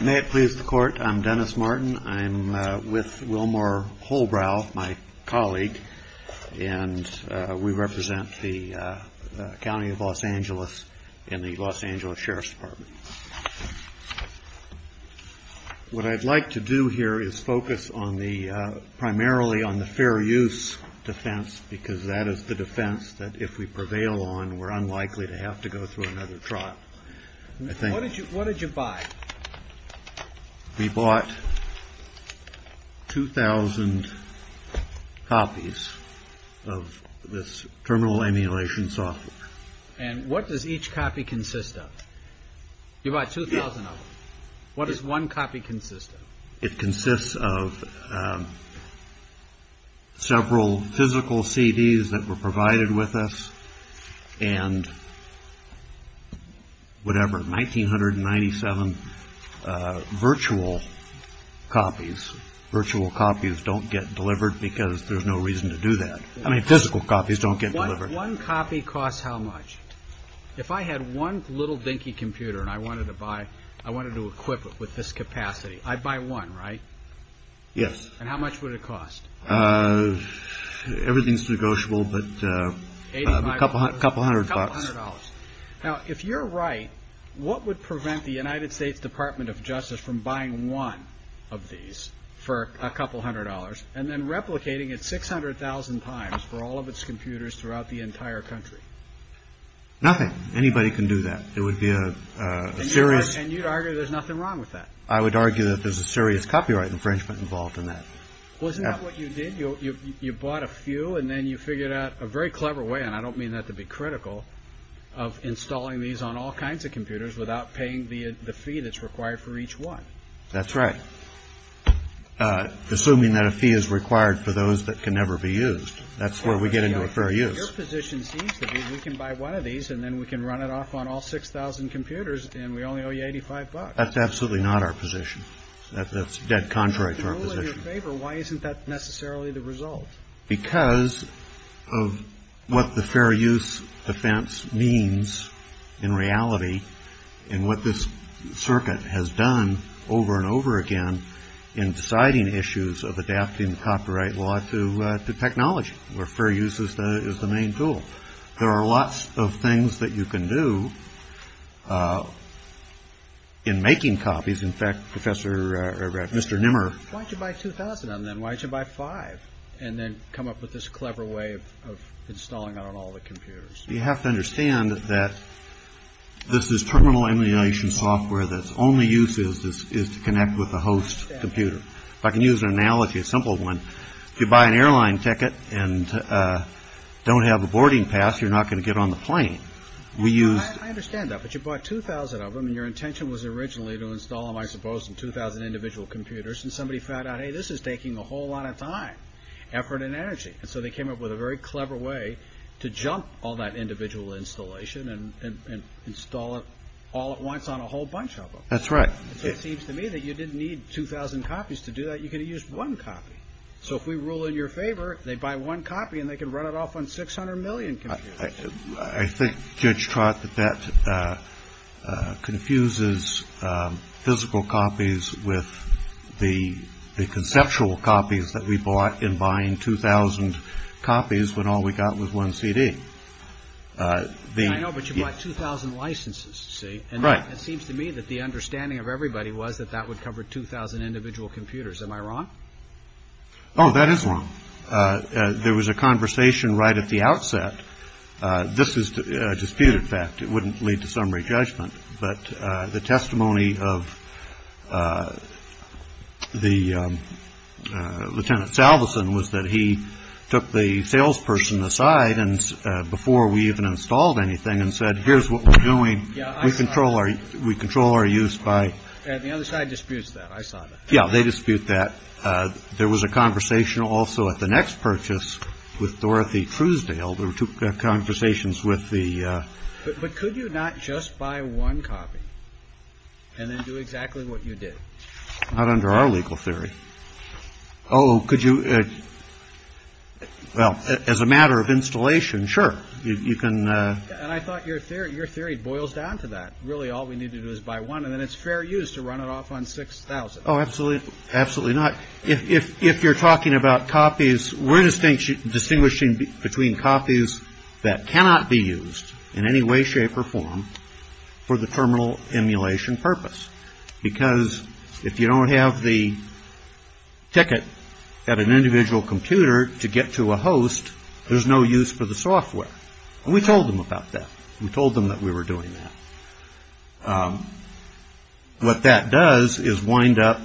May it please the Court, I'm Dennis Martin. I'm with Wilmore Holbrow, my colleague, and we represent the County of Los Angeles in the Los Angeles Sheriff's Department. What I'd like to do here is focus primarily on the fair use defense, because that is the defense that if we prevail on, we're unlikely to have to go through another trial. What did you buy? We bought 2,000 copies of this terminal emulation software. And what does each copy consist of? You bought 2,000 of them. What does one copy consist of? It consists of several physical CDs that were provided with us and whatever, 1,997 virtual copies. Virtual copies don't get delivered because there's no reason to do that. I mean physical copies don't get delivered. One copy costs how much? If I had one little dinky computer and I wanted to buy, I wanted to equip it with this capacity, I'd buy one, right? Yes. And how much would it cost? Everything's negotiable, but a couple hundred bucks. Now, if you're right, what would prevent the United States Department of Justice from buying one of these for a couple hundred dollars and then replicating it 600,000 times for all of its computers throughout the entire country? Nothing. Anybody can do that. It would be a serious... And you'd argue there's nothing wrong with that? I would argue that there's a serious copyright infringement involved in that. Well, isn't that what you did? You bought a few and then you figured out a very clever way, and I don't mean that to be critical, of installing these on all kinds of computers without paying the fee that's required for each one. That's right. Assuming that a fee is required for those that can never be used. That's where we get into a fair use. Your position seems to be we can buy one of these and then we can run it off on all 6,000 computers and we only owe you 85 bucks. That's absolutely not our position. That's dead contrary to our position. In your favor, why isn't that necessarily the result? Because of what the fair use defense means in reality and what this circuit has done over and over again in deciding issues of adapting copyright law to technology, where fair use is the main tool. There are lots of things that you can do in making copies. In fact, Professor Mr. Nimmer, why'd you buy 2000 and then why'd you buy five and then come up with this clever way of installing it on all the computers? You have to understand that this is terminal emulation software. That's only use is this is to connect with the host computer. If I can use an analogy, a simple one. If you buy an airline ticket and don't have a boarding pass, you're not going to get on the plane. We use. I understand that. But you bought 2000 of them and your intention was originally to install them, I suppose, in 2000 individual computers. And somebody found out, hey, this is taking a whole lot of time, effort and energy. And so they came up with a very clever way to jump all that individual installation and install it all at once on a whole bunch of them. That's right. It seems to me that you didn't need 2000 copies to do that. You can use one copy. So if we rule in your favor, they buy one copy and they can run it off on 600 million. I think, Judge Trott, that that confuses physical copies with the conceptual copies that we bought in buying 2000 copies when all we got was one CD. I know, but you bought 2000 licenses. Right. It seems to me that the understanding of everybody was that that would cover 2000 individual computers. Am I wrong? Oh, that is wrong. There was a conversation right at the outset. This is a disputed fact. It wouldn't lead to summary judgment. But the testimony of the Lieutenant Salveson was that he took the salesperson aside. And before we even installed anything and said, here's what we're doing. We control our we control our use by the other side disputes that I saw. Yeah, they dispute that. There was a conversation also at the next purchase with Dorothy Truesdale. There were two conversations with the. But could you not just buy one copy? And then do exactly what you did not under our legal theory. Oh, could you. Well, as a matter of installation. Sure, you can. And I thought your theory, your theory boils down to that. Really, all we need to do is buy one and then it's fair use to run it off on 6000. Absolutely. Absolutely not. If you're talking about copies, we're just distinguishing between copies that cannot be used in any way, shape or form for the terminal emulation purpose. Because if you don't have the ticket at an individual computer to get to a host, there's no use for the software. And we told them about that. We told them that we were doing that. What that does is wind up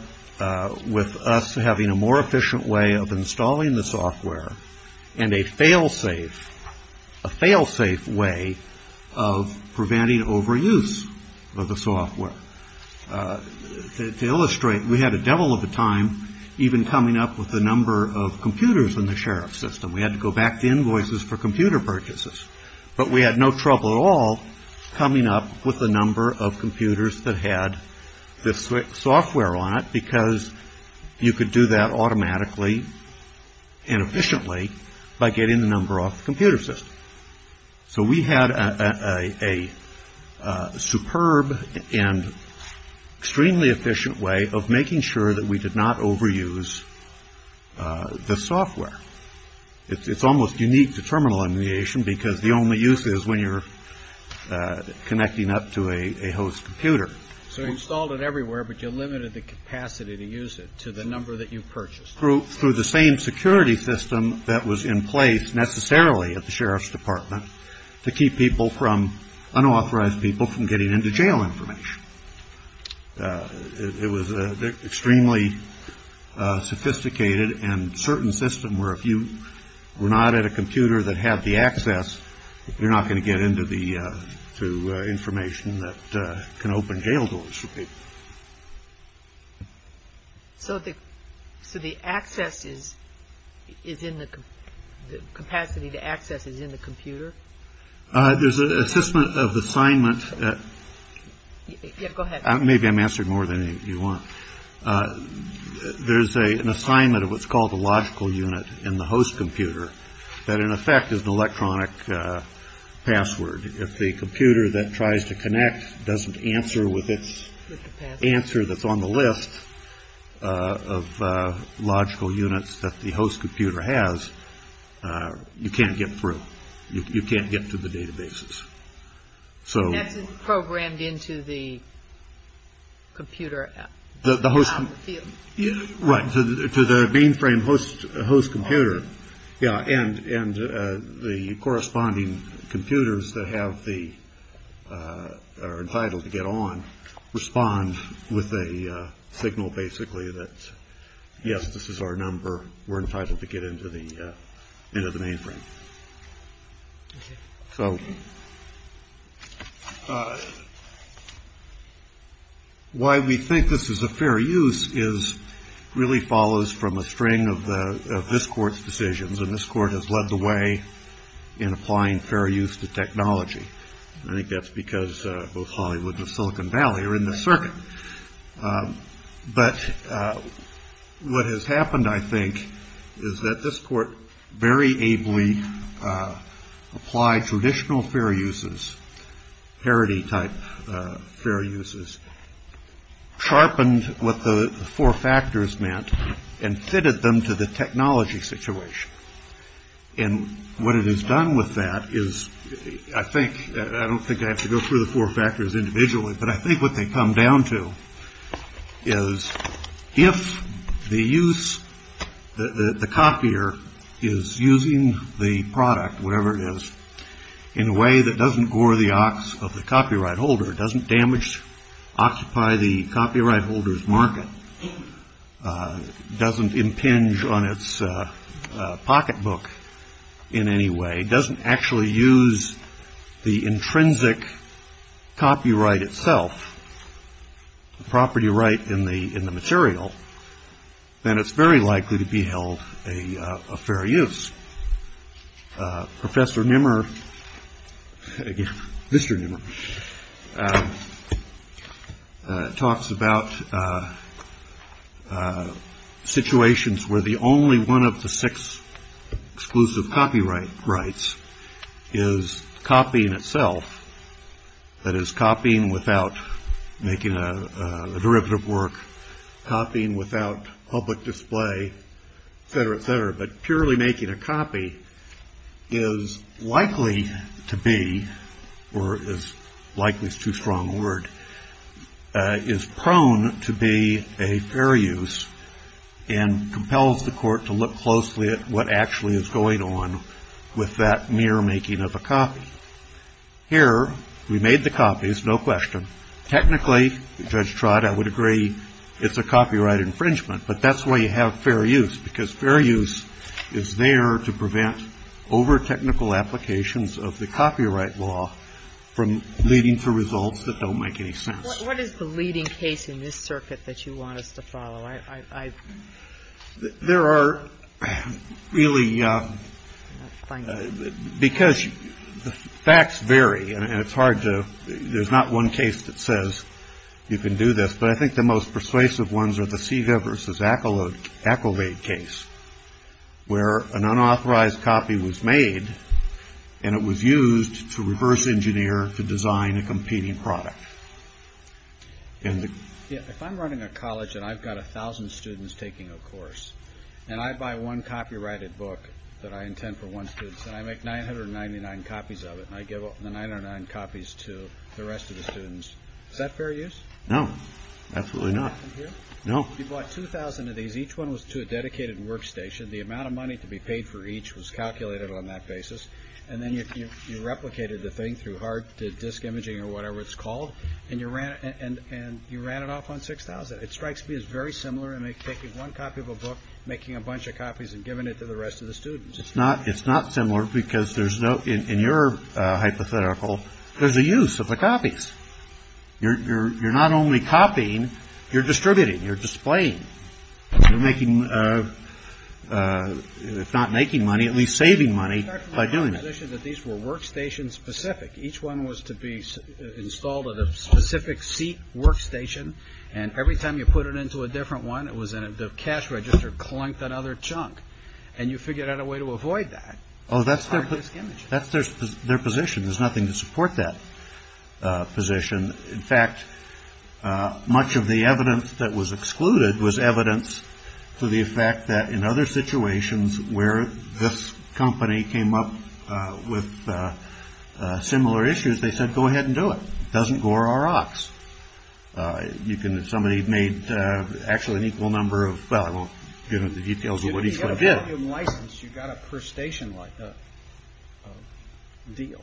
with us having a more efficient way of installing the software and a fail safe, a fail safe way of preventing overuse of the software to illustrate. We had a devil of a time even coming up with the number of computers in the sheriff system. We had to go back to invoices for computer purchases, but we had no trouble at all coming up with the number of computers that had the software on it because you could do that automatically and efficiently by getting the number off the computer system. So we had a superb and extremely efficient way of making sure that we did not overuse the software. It's almost unique to terminal emulation because the only use is when you're connecting up to a host computer. So you installed it everywhere, but you limited the capacity to use it to the number that you purchased. Through the same security system that was in place necessarily at the sheriff's department to keep people from unauthorized people from getting into jail information. It was extremely sophisticated and certain system where if you were not at a computer that had the access, you're not going to get into the information that can open jail doors for people. So the. So the access is is in the capacity to access is in the computer. There's a system of assignment. Go ahead. Maybe I'm answering more than you want. There's an assignment of what's called the logical unit in the host computer that in effect is an electronic password. If the computer that tries to connect doesn't answer with its answer, that's on the list of logical units that the host computer has. You can't get through. You can't get to the databases. So it's programmed into the computer. Right. To the mainframe host host computer. Yeah. And and the corresponding computers that have the are entitled to get on, respond with a signal basically that, yes, this is our number. We're entitled to get into the end of the mainframe. So. Why we think this is a fair use is really follows from a string of this court's decisions. And this court has led the way in applying fair use to technology. I think that's because both Hollywood and Silicon Valley are in the circuit. But what has happened, I think, is that this court very ably applied traditional fair uses, parody type fair uses, sharpened what the four factors meant and fitted them to the technology situation. And what it has done with that is I think I don't think I have to go through the four factors individually, but I think what they come down to is if the use that the copier is using the product, whatever it is, in a way that doesn't gore the ox of the copyright holder, doesn't damage, occupy the copyright holders market, doesn't impinge on its pocketbook in any way, doesn't actually use the intrinsic copyright itself, property right in the in the material, then it's very likely to be held a fair use. Professor Nimmer, again, Mr. Nimmer, talks about situations where the only one of the six exclusive copyright rights is copying itself. That is copying without making a derivative work, copying without public display, et cetera, et cetera. But purely making a copy is likely to be or is likely is too strong a word, is prone to be a fair use and compels the court to look closely at what actually is going on with that mere making of a copy. Here we made the copies, no question. Technically, Judge Trott, I would agree it's a copyright infringement, but that's why you have fair use, because fair use is there to prevent over-technical applications of the copyright law from leading to results that don't make any sense. What is the leading case in this circuit that you want us to follow? There are really, because the facts vary and it's hard to, there's not one case that says you can do this, but I think the most persuasive ones are the Seagiver versus Acolade case, where an unauthorized copy was made and it was used to reverse engineer to design a competing product. If I'm running a college and I've got a thousand students taking a course and I buy one copyrighted book that I intend for one student, and I make 999 copies of it and I give the 999 copies to the rest of the students, is that fair use? No. Absolutely not. No. You bought 2,000 of these. Each one was to a dedicated workstation. The amount of money to be paid for each was calculated on that basis, and then you replicated the thing through hard disk imaging or whatever it's called, and you ran it off on 6,000. It strikes me as very similar in taking one copy of a book, making a bunch of copies, and giving it to the rest of the students. It's not similar because there's no, in your hypothetical, there's a use of the copies. You're not only copying, you're distributing. You're displaying. You're making, if not making money, at least saving money by doing it. These were workstation specific. Each one was to be installed at a specific seat workstation, and every time you put it into a different one, the cash register clunked another chunk, and you figured out a way to avoid that. Oh, that's their position. There's nothing to support that position. In fact, much of the evidence that was excluded was evidence to the effect that in other situations where this company came up with similar issues, they said, go ahead and do it. It doesn't gore our ox. Somebody made actually an equal number of, well, I won't get into the details of what each one did. You got a per station deal.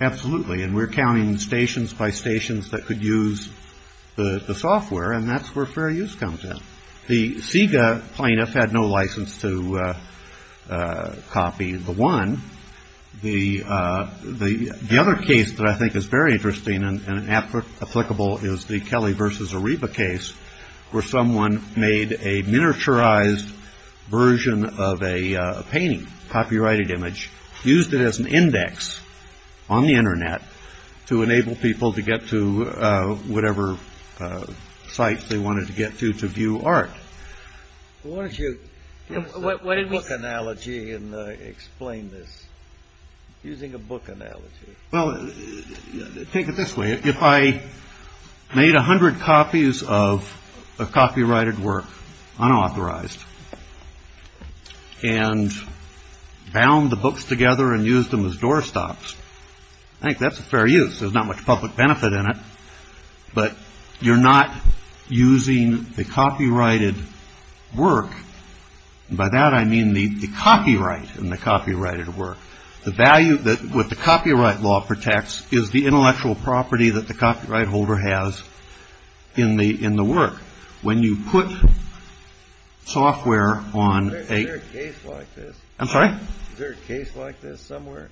Absolutely. And we're counting stations by stations that could use the software, and that's where fair use comes in. The SIGA plaintiff had no license to copy the one. The other case that I think is very interesting and applicable is the Kelly versus Areva case where someone made a miniaturized version of a painting, copyrighted image, used it as an index on the Internet to enable people to get to whatever site they wanted to get to to view art. Why don't you use a book analogy and explain this, using a book analogy. Well, take it this way. If I made 100 copies of a copyrighted work, unauthorized, and bound the books together and used them as doorstops, I think that's a fair use. There's not much public benefit in it. But you're not using the copyrighted work. By that, I mean the copyright and the copyrighted work. The value that what the copyright law protects is the intellectual property that the copyright holder has in the in the work. When you put software on a case like this. I'm sorry. There's a case like this somewhere.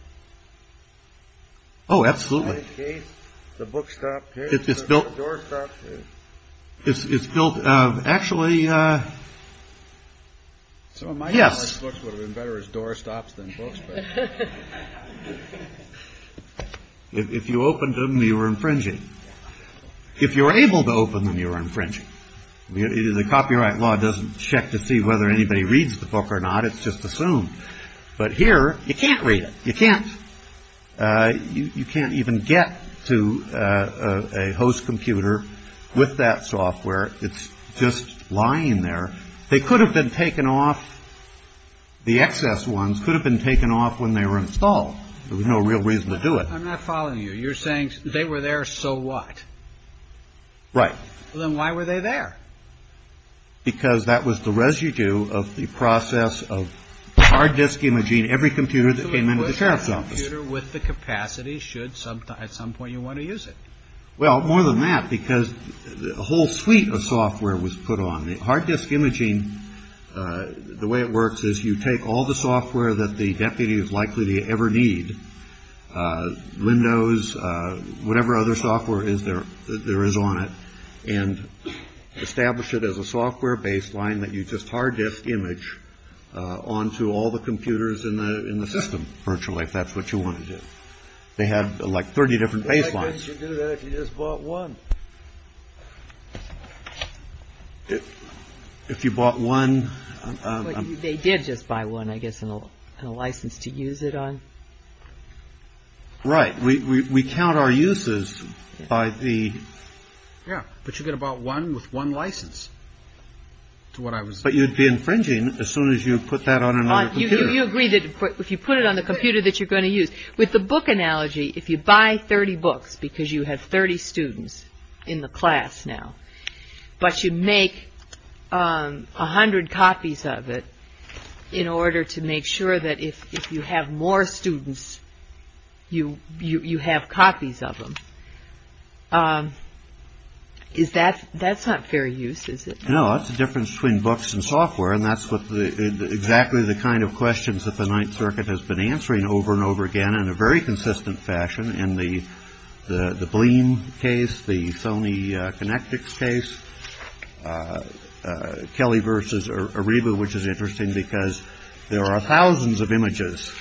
Oh, absolutely. The book stopped. It's built. It's built. Actually. The. Yes. Books would have been better as doorstops than books. If you opened them, you were infringing. If you were able to open them, you were infringing. The copyright law doesn't check to see whether anybody reads the book or not. It's just assumed. But here you can't read it. You can't. You can't even get to a host computer with that software. It's just lying there. They could have been taken off. The excess ones could have been taken off when they were installed. There was no real reason to do it. I'm not following you. You're saying they were there. So what. Right. Well, then why were they there? Because that was the residue of the process of hard disk imaging. Every computer that came into the sheriff's office with the capacity should sometimes at some point you want to use it. Well, more than that, because a whole suite of software was put on the hard disk imaging. The way it works is you take all the software that the deputy is likely to ever need. Windows, whatever other software is there. There is on it and establish it as a software baseline that you just hard disk image onto all the computers in the system. And you can do it virtually if that's what you want to do. They had like 30 different baselines. You just bought one. If you bought one. They did just buy one, I guess, and a license to use it on. Right. We count our uses by the. Yeah. But you get about one with one license. To what I was. But you'd be infringing as soon as you put that on. And you agree that if you put it on the computer that you're going to use with the book analogy, if you buy 30 books because you have 30 students in the class now, but you make a hundred copies of it in order to make sure that if you have more students, you you have copies of them. Is that that's not fair use, is it? No, it's a difference between books and software. And that's what exactly the kind of questions that the Ninth Circuit has been answering over and over again in a very consistent fashion. And the the bling case, the Sony Connectix case, Kelly versus Ariba, which is interesting because there are thousands of images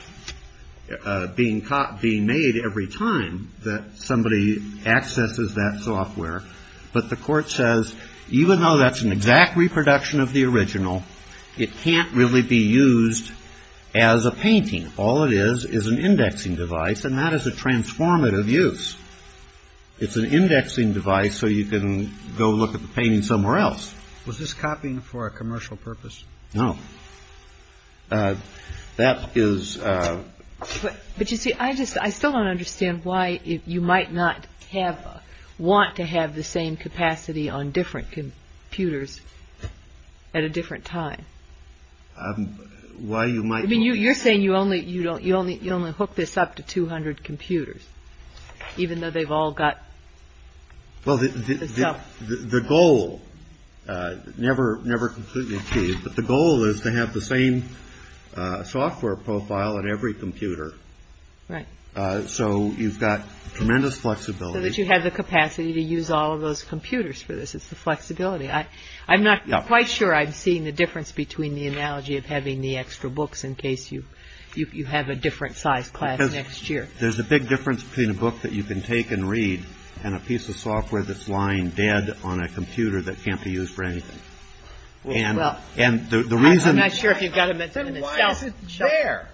being caught being made every time that somebody accesses that software. But the court says, even though that's an exact reproduction of the original, it can't really be used as a painting. All it is is an indexing device. And that is a transformative use. It's an indexing device. So you can go look at the painting somewhere else. Was this copying for a commercial purpose? No, that is. But you see, I just I still don't understand why you might not have want to have the same capacity on different computers at a different time. Why you might mean you you're saying you only you don't you only you only hook this up to 200 computers, even though they've all got. Well, the goal never, never completely achieved. But the goal is to have the same software profile at every computer. So you've got tremendous flexibility that you have the capacity to use all of those computers for this. It's the flexibility. I'm not quite sure I've seen the difference between the analogy of having the extra books in case you you have a different size class next year. There's a big difference between a book that you can take and read and a piece of software that's lying dead on a computer that can't be used for anything. Well, and the reason I'm not sure if you've got it there.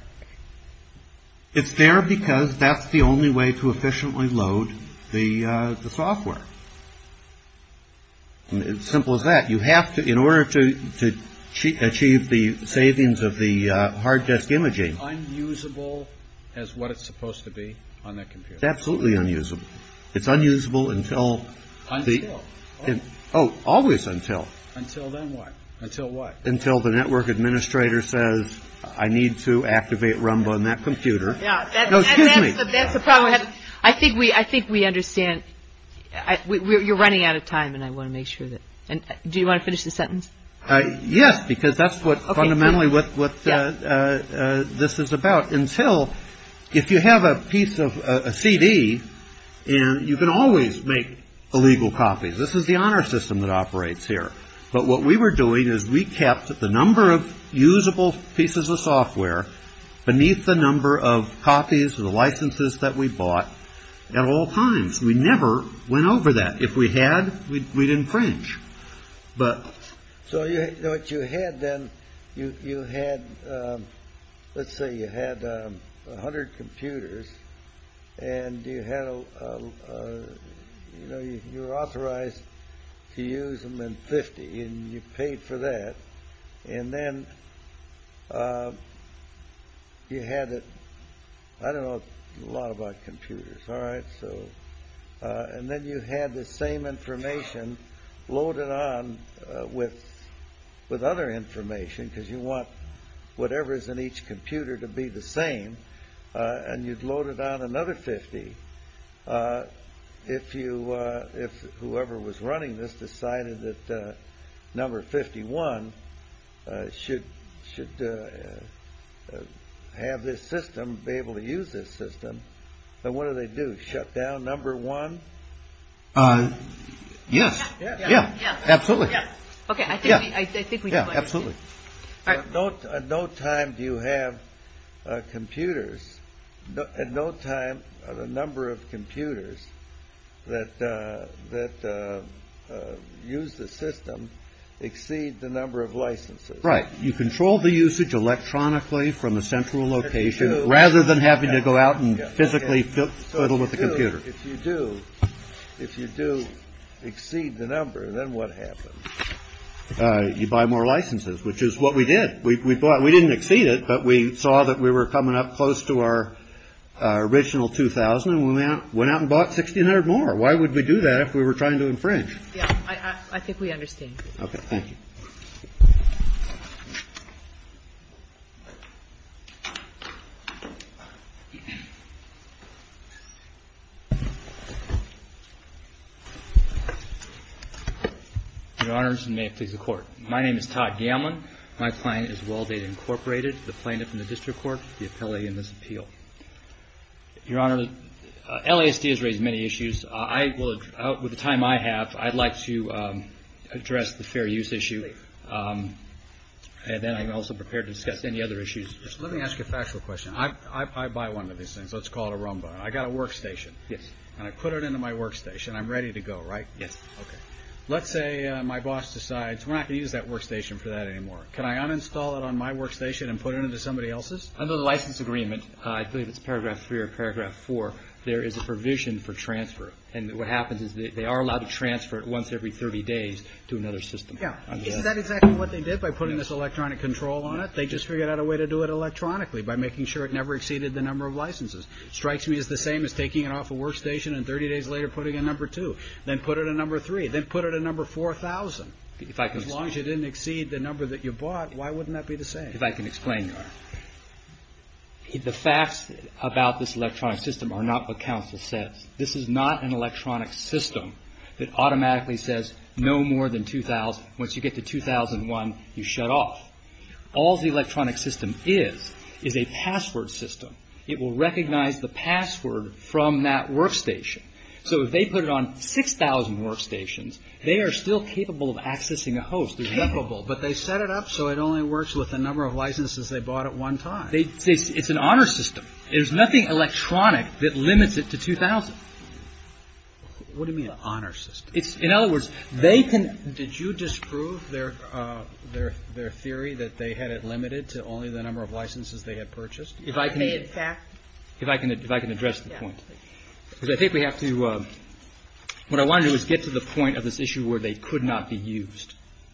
It's there because that's the only way to efficiently load the software. It's simple as that. You have to in order to achieve the savings of the hard disk imaging. I'm usable as what it's supposed to be on that computer. Absolutely. Unusable. It's unusable until the end. Oh, always until until then. Until what? Until the network administrator says, I need to activate rumble on that computer. That's the problem. I think we I think we understand you're running out of time. And I want to make sure that you want to finish the sentence. Yes, because that's what fundamentally what this is about. Until if you have a piece of a CD and you can always make illegal copies. This is the honor system that operates here. But what we were doing is we kept the number of usable pieces of software beneath the number of copies of the licenses that we bought at all times. We never went over that. If we had, we'd infringe. So what you had then, you had, let's say you had 100 computers and you had, you know, you're authorized to use them in 50. And you paid for that. And then you had it. I don't know a lot about computers. All right. So and then you had the same information loaded on with with other information because you want whatever is in each computer to be the same. And you'd load it on another 50. If you if whoever was running this decided that number 51 should should have this system be able to use this system. So what do they do? Shut down number one. Yes. Yeah. Yeah. Absolutely. OK. Yeah. I think. Yeah. Absolutely. Don't at no time do you have computers at no time. The number of computers that that use the system exceed the number of licenses. Right. You control the usage electronically from a central location rather than having to go out and physically fiddle with the computer. If you do, if you do exceed the number, then what happens? You buy more licenses, which is what we did. We bought. We didn't exceed it, but we saw that we were coming up close to our original 2000 and we went out and bought 1600 more. Why would we do that if we were trying to infringe? I think we understand. OK. Thank you. Your Honor, may it please the Court. My name is Todd Gammon. My client is Well Data Incorporated, the plaintiff in the district court, the appellee in this appeal. Your Honor, LSD has raised many issues. I will with the time I have, I'd like to address the fair use issue. And then I'm also prepared to discuss any other issues. Let me ask you a factual question. I buy one of these things. Let's call it a rumba. I got a workstation. Yes. And I put it into my workstation. I'm ready to go. Right. Yes. OK. Let's say my boss decides we're not going to use that workstation for that anymore. Can I uninstall it on my workstation and put it into somebody else's? Under the license agreement, I believe it's paragraph three or paragraph four. There is a provision for transfer. And what happens is that they are allowed to transfer it once every 30 days to another system. Is that exactly what they did by putting this electronic control on it? They just figured out a way to do it electronically by making sure it never exceeded the number of licenses. Strikes me as the same as taking it off a workstation and 30 days later putting a number two. Then put it a number three. Then put it a number 4000. As long as you didn't exceed the number that you bought, why wouldn't that be the same? If I can explain, the facts about this electronic system are not what counsel says. This is not an electronic system that automatically says no more than 2000. Once you get to 2001, you shut off. All the electronic system is, is a password system. It will recognize the password from that workstation. So if they put it on 6000 workstations, they are still capable of accessing a host. But they set it up so it only works with the number of licenses they bought at one time. It's an honor system. There's nothing electronic that limits it to 2000. What do you mean an honor system? In other words, they can. Did you disprove their, their, their theory that they had it limited to only the number of licenses they had purchased? If I can, if I can, if I can address the point. Because I think we have to, what I want to do is get to the point of this issue where they could not be used.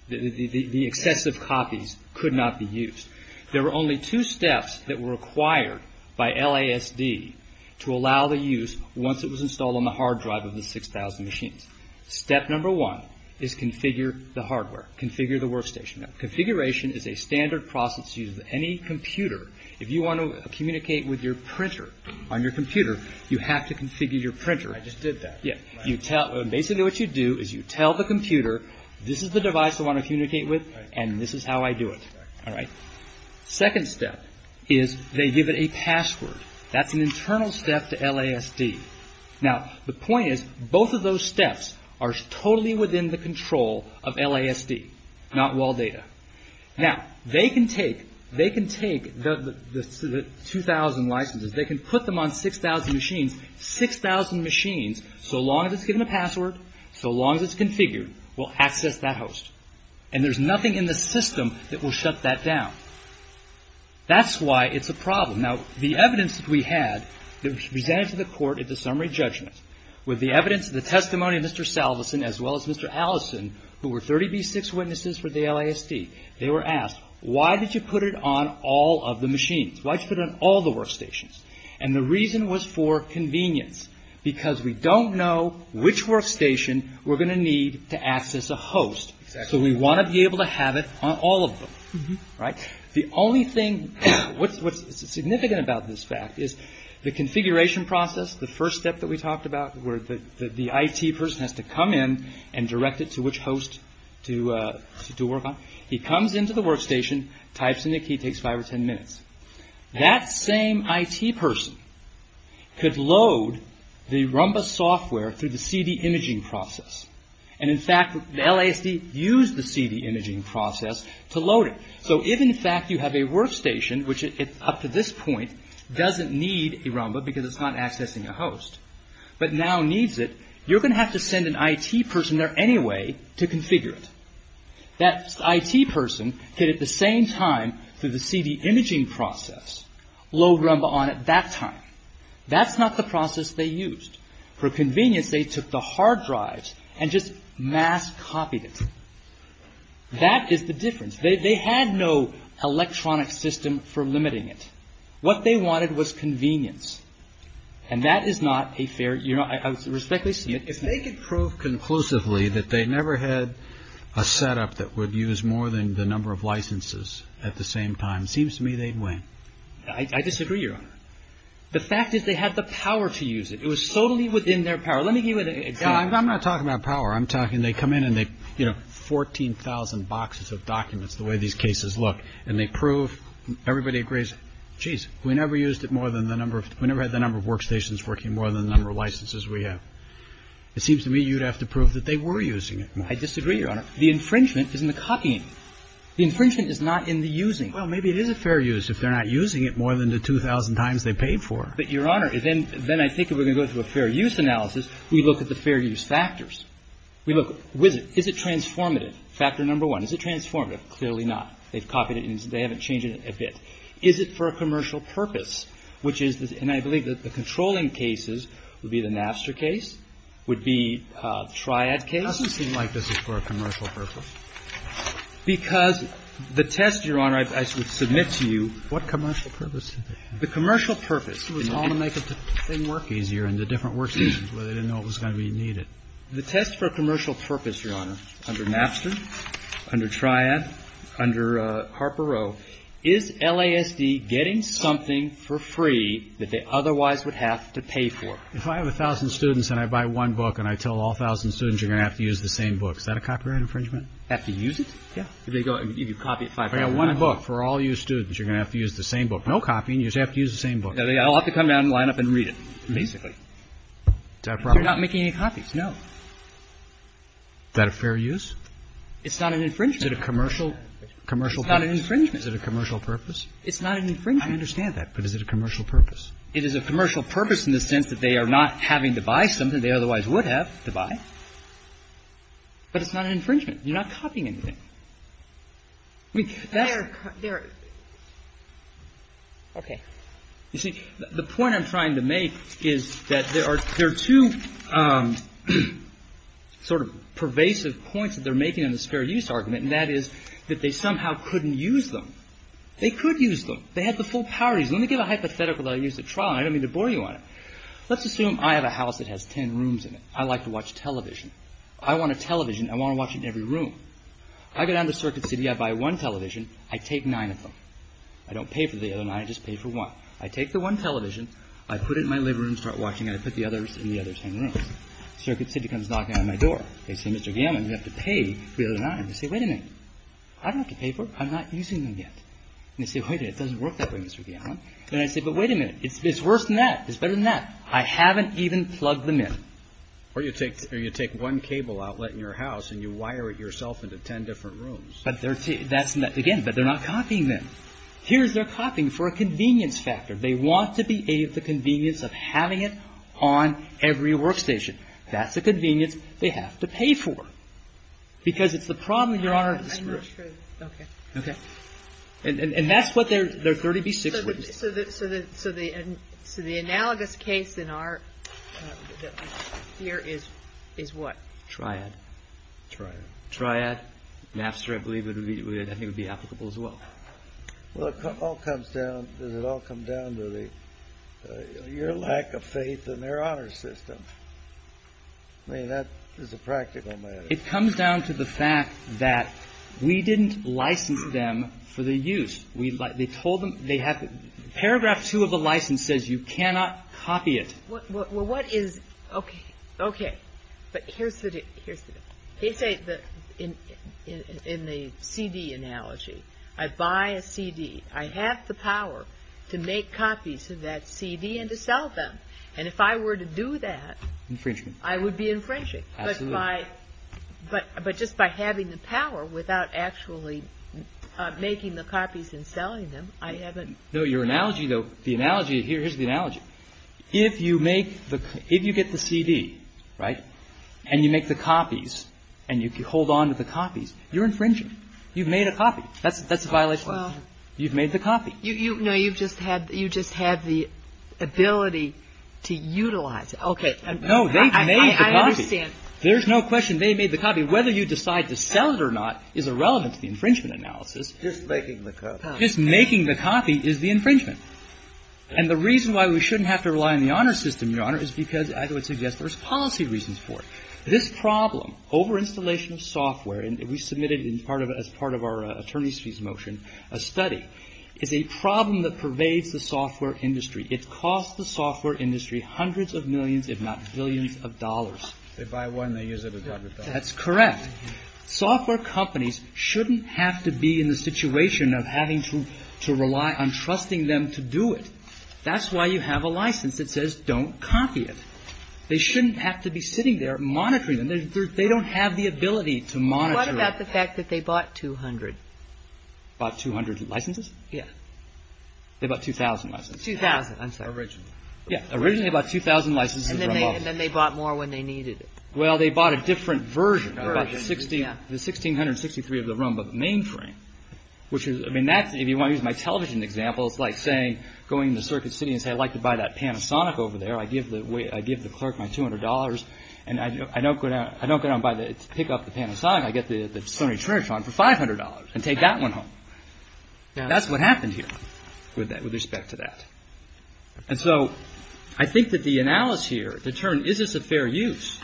The, the, the excessive copies could not be used. There were only two steps that were required by LASD to allow the use once it was installed on the hard drive of the 6000 machines. Step number one is configure the hardware, configure the workstation. Configuration is a standard process used with any computer. If you want to communicate with your printer on your computer, you have to configure your printer. I just did that. Yeah. You tell, basically what you do is you tell the computer, this is the device I want to communicate with and this is how I do it. All right. Second step is they give it a password. That's an internal step to LASD. Now, the point is both of those steps are totally within the control of LASD, not wall data. Now, they can take, they can take the, the 2000 licenses. They can put them on 6000 machines. 6000 machines, so long as it's given a password, so long as it's configured, will access that host. And there's nothing in the system that will shut that down. That's why it's a problem. Now, the evidence that we had that was presented to the court at the summary judgment with the evidence, the testimony of Mr. Salveson as well as Mr. Allison, who were 30B6 witnesses for the LASD, they were asked, why did you put it on all of the machines? Why did you put it on all the workstations? And the reason was for convenience because we don't know which workstation we're going to need to access a host. Exactly. So we want to be able to have it on all of them. Right? The only thing, what's significant about this fact is the configuration process, the first step that we talked about where the IT person has to come in and direct it to which host to work on. He comes into the workstation, types in the key, takes five or ten minutes. That same IT person could load the Rumba software through the CD imaging process. And in fact, the LASD used the CD imaging process to load it. So if in fact you have a workstation, which up to this point doesn't need a Rumba because it's not accessing a host, but now needs it, you're going to have to send an IT person there anyway to configure it. That IT person could at the same time through the CD imaging process load Rumba on at that time. That's not the process they used. For convenience, they took the hard drives and just mass copied it. That is the difference. They had no electronic system for limiting it. What they wanted was convenience. And that is not a fair, you know, I respectfully submit. If they could prove conclusively that they never had a setup that would use more than the number of licenses at the same time, it seems to me they'd win. I disagree, Your Honor. The fact is they had the power to use it. It was totally within their power. Let me give you an example. I'm not talking about power. I'm talking they come in and they, you know, 14,000 boxes of documents, the way these cases look, and they prove everybody agrees, geez, we never used it more than the number of, we never had the number of workstations working more than the number of licenses we have. It seems to me you'd have to prove that they were using it. I disagree, Your Honor. The infringement is in the copying. The infringement is not in the using. Well, maybe it is a fair use if they're not using it more than the 2,000 times they paid for it. But, Your Honor, then I think if we're going to go through a fair use analysis, we look at the fair use factors. We look, is it transformative? Factor number one, is it transformative? Clearly not. They've copied it and they haven't changed it a bit. Is it for a commercial purpose, which is, and I believe that the controlling cases would be the Napster case, would be Triad case. It doesn't seem like this is for a commercial purpose. Because the test, Your Honor, I submit to you. What commercial purpose? The commercial purpose was all to make the thing work easier in the different workstations where they didn't know it was going to be needed. The test for a commercial purpose, Your Honor, under Napster, under Triad, under Harper-Rowe, is LASD getting something for free that they otherwise would have to pay for? If I have 1,000 students and I buy one book and I tell all 1,000 students you're going to have to use the same book, is that a copyright infringement? Have to use it? Yeah. Do they go and you copy it five times? I got one book for all you students. You're going to have to use the same book. No copying. You just have to use the same book. I'll have to come down and line up and read it, basically. Is that appropriate? I'm not making any copies, no. Is that a fair use? It's not an infringement. Is it a commercial purpose? It's not an infringement. Is it a commercial purpose? It's not an infringement. I understand that. But is it a commercial purpose? It is a commercial purpose in the sense that they are not having to buy something they otherwise would have to buy. But it's not an infringement. You're not copying anything. I mean, that's the point I'm trying to make is that there are two, there are two different sort of pervasive points that they're making in the fair use argument, and that is that they somehow couldn't use them. They could use them. They had the full power to use them. Let me give a hypothetical that I used at trial, and I don't mean to bore you on it. Let's assume I have a house that has ten rooms in it. I like to watch television. I want a television. I want to watch it in every room. I go down to Circuit City. I buy one television. I take nine of them. I don't pay for the other nine. I just pay for one. I take the one television. I put it in my living room and start watching it. I put the others in the other ten rooms. Circuit City comes knocking on my door. They say, Mr. Gammon, you have to pay for the other nine. I say, wait a minute. I don't have to pay for them. I'm not using them yet. And they say, wait a minute. It doesn't work that way, Mr. Gammon. And I say, but wait a minute. It's worse than that. It's better than that. I haven't even plugged them in. Or you take one cable outlet in your house and you wire it yourself into ten different rooms. But that's, again, but they're not copying them. Here's their copying for a convenience factor. They want to be of the convenience of having it on every workstation. That's a convenience they have to pay for. Because it's the problem, Your Honor. I'm not sure. Okay. Okay. And that's what their 30B6 would be. So the analogous case in our, here, is what? Triad. Triad. Triad. Napster, I believe, I think would be applicable as well. Well, it all comes down, does it all come down to the, your lack of faith in their honor system. I mean, that is a practical matter. It comes down to the fact that we didn't license them for their use. We, they told them, they have, paragraph two of the license says you cannot copy it. Well, what is, okay. Okay. But here's the, here's the, they say that in the CD analogy, I buy a CD, I have the power to make copies of that CD and to sell them. And if I were to do that. Infringement. I would be infringing. Absolutely. But by, but just by having the power without actually making the copies and selling them, I haven't. No, your analogy though, the analogy here, here's the analogy. If you make the, if you get the CD, right, and you make the copies, and you hold on to the copies, you're infringing. You've made a copy. That's a violation. Well. You've made the copy. No, you've just had, you just had the ability to utilize it. Okay. No, they've made the copy. I understand. There's no question they made the copy. Whether you decide to sell it or not is irrelevant to the infringement analysis. Just making the copy. Just making the copy is the infringement. And the reason why we shouldn't have to rely on the honor system, Your Honor, is because I would suggest there's policy reasons for it. This problem, over-installation of software, and we submitted in part of, as part of our attorney's fees motion, a study, is a problem that pervades the software industry. It costs the software industry hundreds of millions, if not billions of dollars. If they buy one, they use it a hundred dollars. That's correct. Software companies shouldn't have to be in the situation of having to rely on trusting them to do it. That's why you have a license that says don't copy it. They shouldn't have to be sitting there monitoring them. They don't have the ability to monitor it. What about the fact that they bought 200? Bought 200 licenses? Yeah. They bought 2,000 licenses. 2,000. I'm sorry. Originally. Yeah. Originally they bought 2,000 licenses. And then they bought more when they needed it. Well, they bought a different version. Version, yeah. The 1,663 of the ROM, but the mainframe, which is, I mean, that's, if you want to use my television example, it's like saying, going to Circuit City and saying, I'd like to buy that Panasonic over there. I give the clerk my $200, and I don't go down and pick up the Panasonic. I get the Sony Trish on for $500 and take that one home. That's what happened here with respect to that. And so I think that the analysis here, the term, is this a fair use?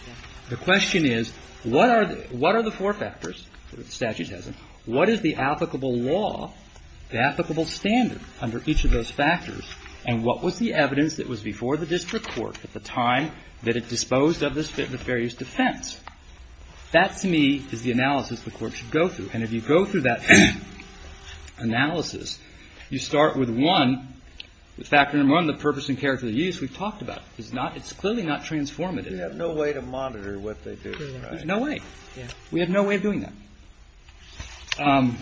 The question is, what are the four factors? The statute says it. What is the applicable law, the applicable standard under each of those factors? And what was the evidence that was before the district court at the time that it disposed of this fair use defense? That, to me, is the analysis the court should go through. And if you go through that analysis, you start with one, the factor number one, the purpose and character of the use we've talked about. It's clearly not transformative. We have no way to monitor what they do. There's no way. We have no way of doing that.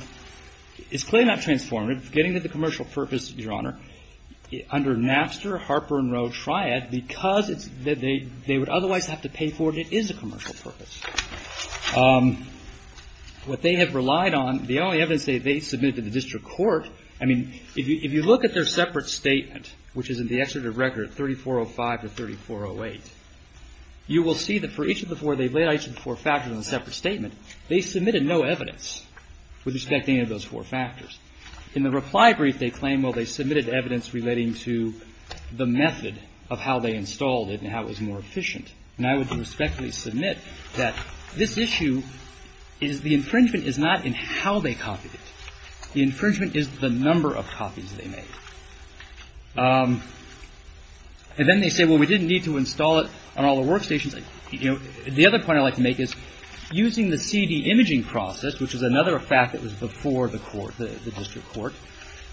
It's clearly not transformative. Getting to the commercial purpose, Your Honor, under Napster, Harper and Rowe, Triad, because they would otherwise have to pay for it, it is a commercial purpose. What they have relied on, the only evidence they submitted to the district court, I mean, if you look at their separate statement, which is in the executive record, 3405 to 3408, you will see that for each of the four, they've laid out each of the four factors in a separate statement. They submitted no evidence with respect to any of those four factors. In the reply brief, they claim, well, they submitted evidence relating to the method of how they installed it and how it was more efficient. And I would respectfully submit that this issue is the infringement is not in how they copied it. The infringement is the number of copies they made. And then they say, well, we didn't need to install it on all the workstations. You know, the other point I'd like to make is using the CD imaging process, which is another fact that was before the court, the district court,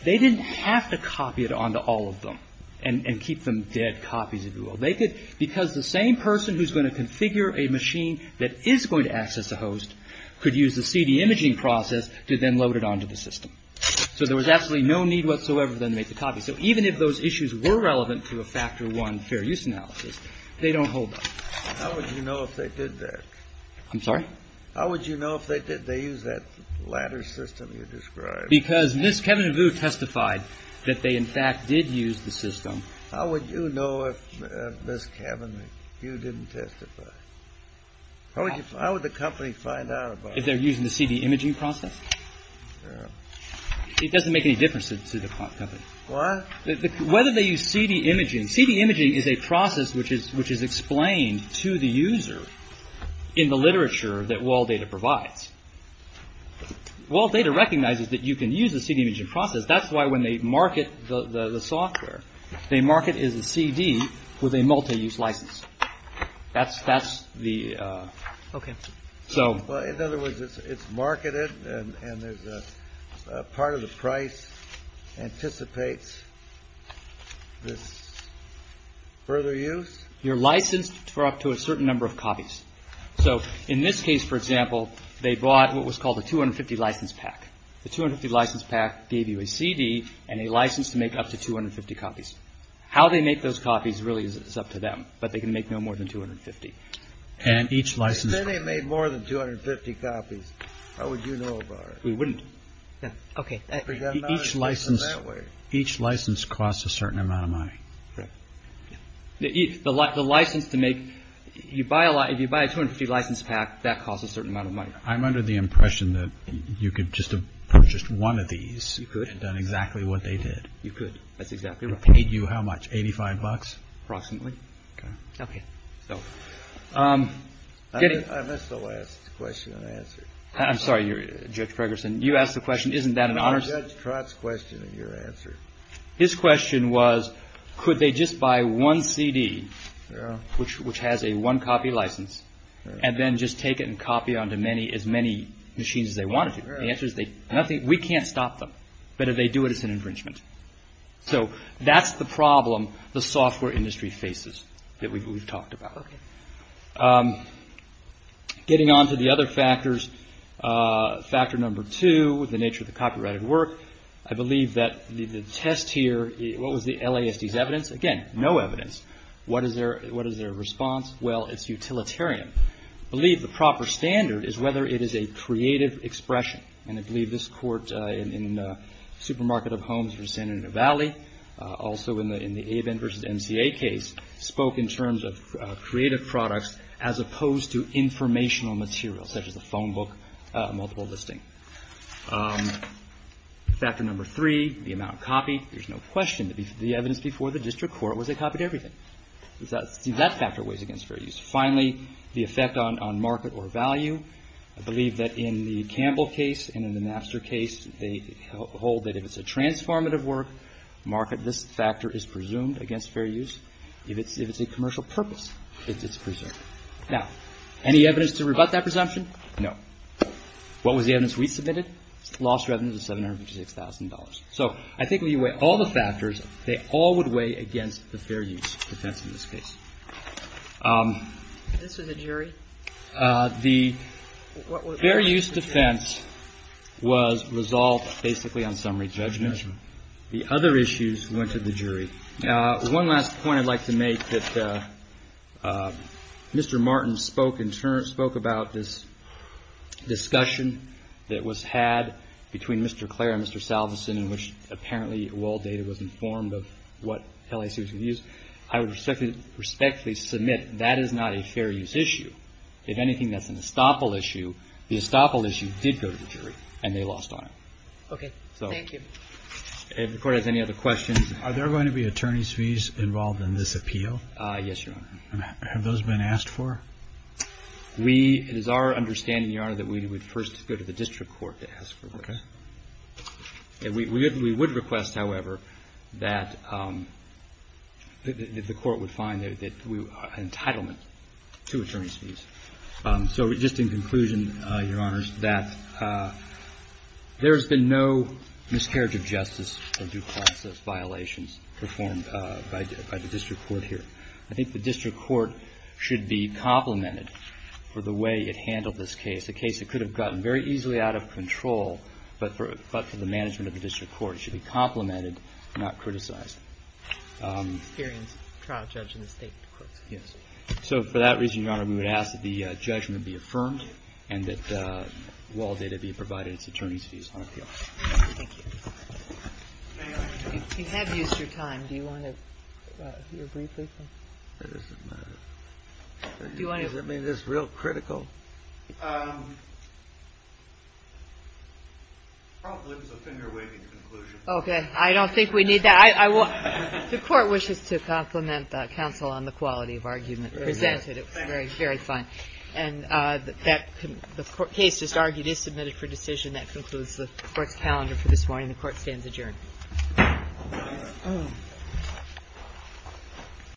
they didn't have to copy it onto all of them and keep them dead copies, if you will. They could, because the same person who's going to configure a machine that is going to access a host could use the CD imaging process to then load it onto the system. So there was absolutely no need whatsoever then to make the copy. So even if those issues were relevant to a factor one fair use analysis, they don't hold up. How would you know if they did that? I'm sorry? How would you know if they did? They used that latter system you described. Because Ms. Kevinview testified that they, in fact, did use the system. How would you know if Ms. Kevinview didn't testify? How would the company find out about it? If they're using the CD imaging process? It doesn't make any difference to the company. What? Whether they use CD imaging. CD imaging is a process which is explained to the user in the literature that WallData provides. WallData recognizes that you can use the CD imaging process. That's why when they market the software, they market it as a CD with a multi-use license. That's the. OK. So. In other words, it's marketed and there's a part of the price anticipates this further use? You're licensed for up to a certain number of copies. So in this case, for example, they bought what was called a 250 license pack. The 250 license pack gave you a CD and a license to make up to 250 copies. How they make those copies really is up to them. But they can make no more than 250. And each license. If they made more than 250 copies, how would you know about it? We wouldn't. OK. Each license costs a certain amount of money. Correct. The license to make. You buy a lot. If you buy a 250 license pack, that costs a certain amount of money. I'm under the impression that you could just have purchased one of these. You could. And done exactly what they did. You could. That's exactly right. It paid you how much? 85 bucks? Approximately. OK. OK. So. I missed the last question and answer. I'm sorry, Judge Ferguson. You asked the question, isn't that an honest. Judge Trott's question and your answer. His question was, could they just buy one CD, which has a one copy license, and then just take it and copy it onto as many machines as they wanted to? The answer is nothing. We can't stop them. But if they do it, it's an infringement. So that's the problem the software industry faces that we've talked about. Getting on to the other factors. Factor number two, the nature of the copyrighted work. I believe that the test here, what was the LASD's evidence? Again, no evidence. What is their response? Well, it's utilitarian. I believe the proper standard is whether it is a creative expression. And I believe this court in the Supermarket of Homes for the San Bernardino Valley, also in the AVEN versus MCA case, spoke in terms of creative products, as opposed to informational materials, such as a phone book, a multiple listing. Factor number three, the amount copied. There's no question that the evidence before the district court was they copied everything. See, that factor weighs against fair use. Finally, the effect on market or value. I believe that in the Campbell case and in the Napster case, they hold that if it's a transformative work, market, this factor is presumed against fair use. If it's a commercial purpose, it's presumed. Now, any evidence to rebut that presumption? No. What was the evidence we submitted? Lost revenues of $756,000. So I think when you weigh all the factors, they all would weigh against the fair use defense in this case. This was a jury? The fair use defense was resolved basically on summary judgment. The other issues went to the jury. One last point I'd like to make, that Mr. Martin spoke in terms, spoke about this discussion that was had between Mr. Clare and Mr. Salveson, in which apparently all data was informed of what LAC was going to use. I would respectfully submit that is not a fair use issue. If anything, that's an estoppel issue. The estoppel issue did go to the jury, and they lost on it. Okay. Thank you. If the Court has any other questions. Are there going to be attorney's fees involved in this appeal? Yes, Your Honor. Have those been asked for? It is our understanding, Your Honor, that we would first go to the district court to ask for them. Okay. We would request, however, that the Court would find an entitlement to attorney's fees. So just in conclusion, Your Honors, that there has been no miscarriage of justice or due process violations performed by the district court here. I think the district court should be complimented for the way it handled this case, a case that could have gotten very easily out of control, but for the management of the district court should be complimented, not criticized. Experienced trial judge in the state courts. So for that reason, Your Honor, we would ask that the judgment be affirmed and that all data be provided as attorney's fees on appeal. Thank you. You have used your time. Do you want to hear briefly? It doesn't matter. Does that mean it's real critical? Probably was a finger-waving conclusion. Okay. I don't think we need that. The Court wishes to compliment the counsel on the quality of argument presented. It was very fine. And the case just argued is submitted for decision. That concludes the Court's calendar for this morning. The Court stands adjourned.